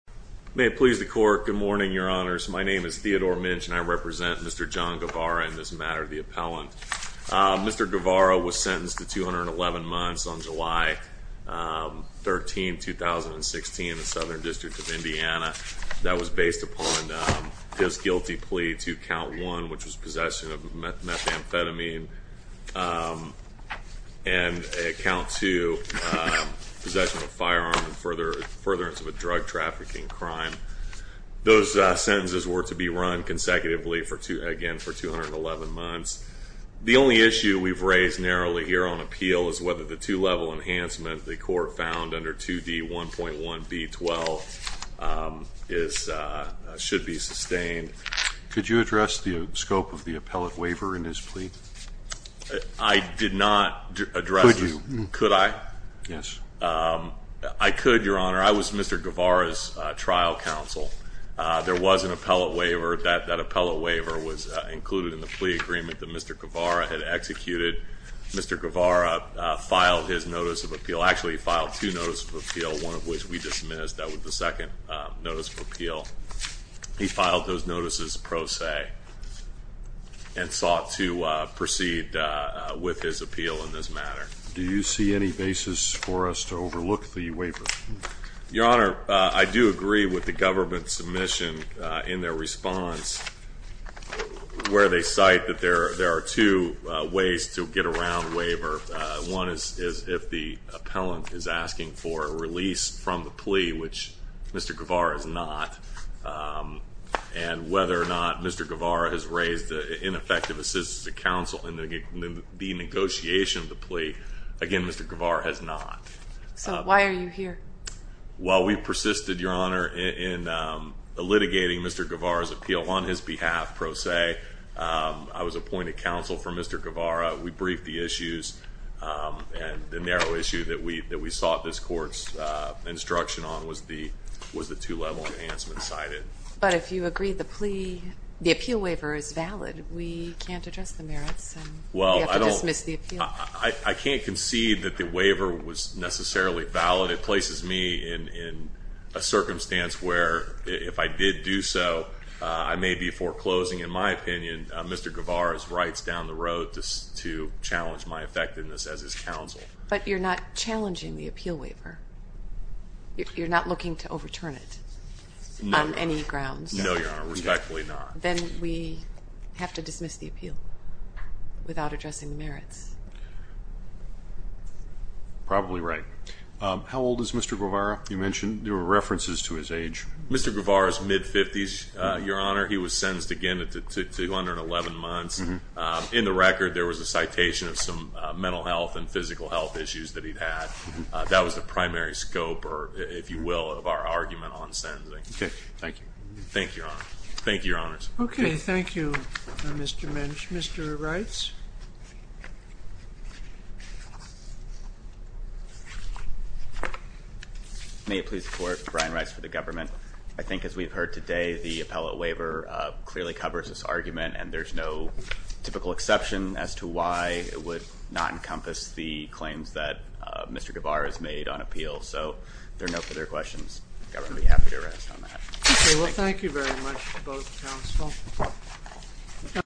May it please the court, good morning your honors. My name is Theodore Minch and I represent Mr. John Guevara in this matter of the appellant. Mr. Guevara was sentenced to 211 months on July 13, 2016 in the Southern District of Indiana. That was based upon his guilty plea to count one which was possession of methamphetamine and count two, possession of a firearm and furtherance of a drug trafficking crime. Those sentences were to be run consecutively again for 211 months. The only issue we've raised narrowly here on appeal is whether the two level enhancement the court found under 2D1.1B12 should be sustained. Could you address the scope of the appellate waiver in his plea? I did not address this. Could you? Could I? Yes. I could, your honor. I was Mr. Guevara's trial counsel. There was an appellate waiver. That appellate waiver was included in the plea agreement that Mr. Guevara had executed. Mr. Guevara filed his notice of appeal, actually he filed two notices of appeal, one of which we dismissed. That was the second notice of appeal. He filed those notices pro se and sought to proceed with his appeal in this matter. Do you see any basis for us to overlook the waiver? Your honor, I do agree with the government's submission in their response where they cite that there are two ways to get around waiver. One is if the appellant is asking for a release from the plea, which Mr. Guevara is not, and whether or not Mr. Guevara has raised ineffective assistance to counsel in the negotiation of the plea. Again, Mr. Guevara has not. So why are you here? Well we persisted, your honor, in litigating Mr. Guevara's appeal on his behalf pro se. I was appointed counsel for Mr. Guevara. We briefed the issues and the narrow issue that we sought this court's instruction on was the two level enhancements cited. But if you agree the plea, the appeal waiver is valid. We can't address the merits and we have to dismiss the appeal. I can't concede that the waiver was necessarily valid. It places me in a circumstance where if I did do so, I may be foreclosing, in my opinion, Mr. Guevara's rights down the road to challenge my effectiveness as his counsel. But you're not challenging the appeal waiver. You're not looking to overturn it on any grounds. No, your honor. Respectfully not. Then we have to dismiss the appeal without addressing the merits. Probably right. How old is Mr. Guevara? You mentioned there were references to his age. Mr. Guevara is mid-fifties, your honor. He was sentenced, again, to under 11 months. In the record, there was a citation of some mental health and physical health issues that he'd had. That was the primary scope, if you will, of our argument on sentencing. Okay. Thank you. Thank you, your honor. Thank you, your honors. Okay. Thank you, Mr. Mench. Mr. Reitz? May it please the court, Brian Reitz for the government. I think as we've heard today, the appellate waiver clearly covers this argument, and there's no typical exception as to why it would not encompass the claims that Mr. Guevara has made on appeal. So if there are no further questions, the government would be happy to rest on that. Okay. Well, thank you very much to both counsel.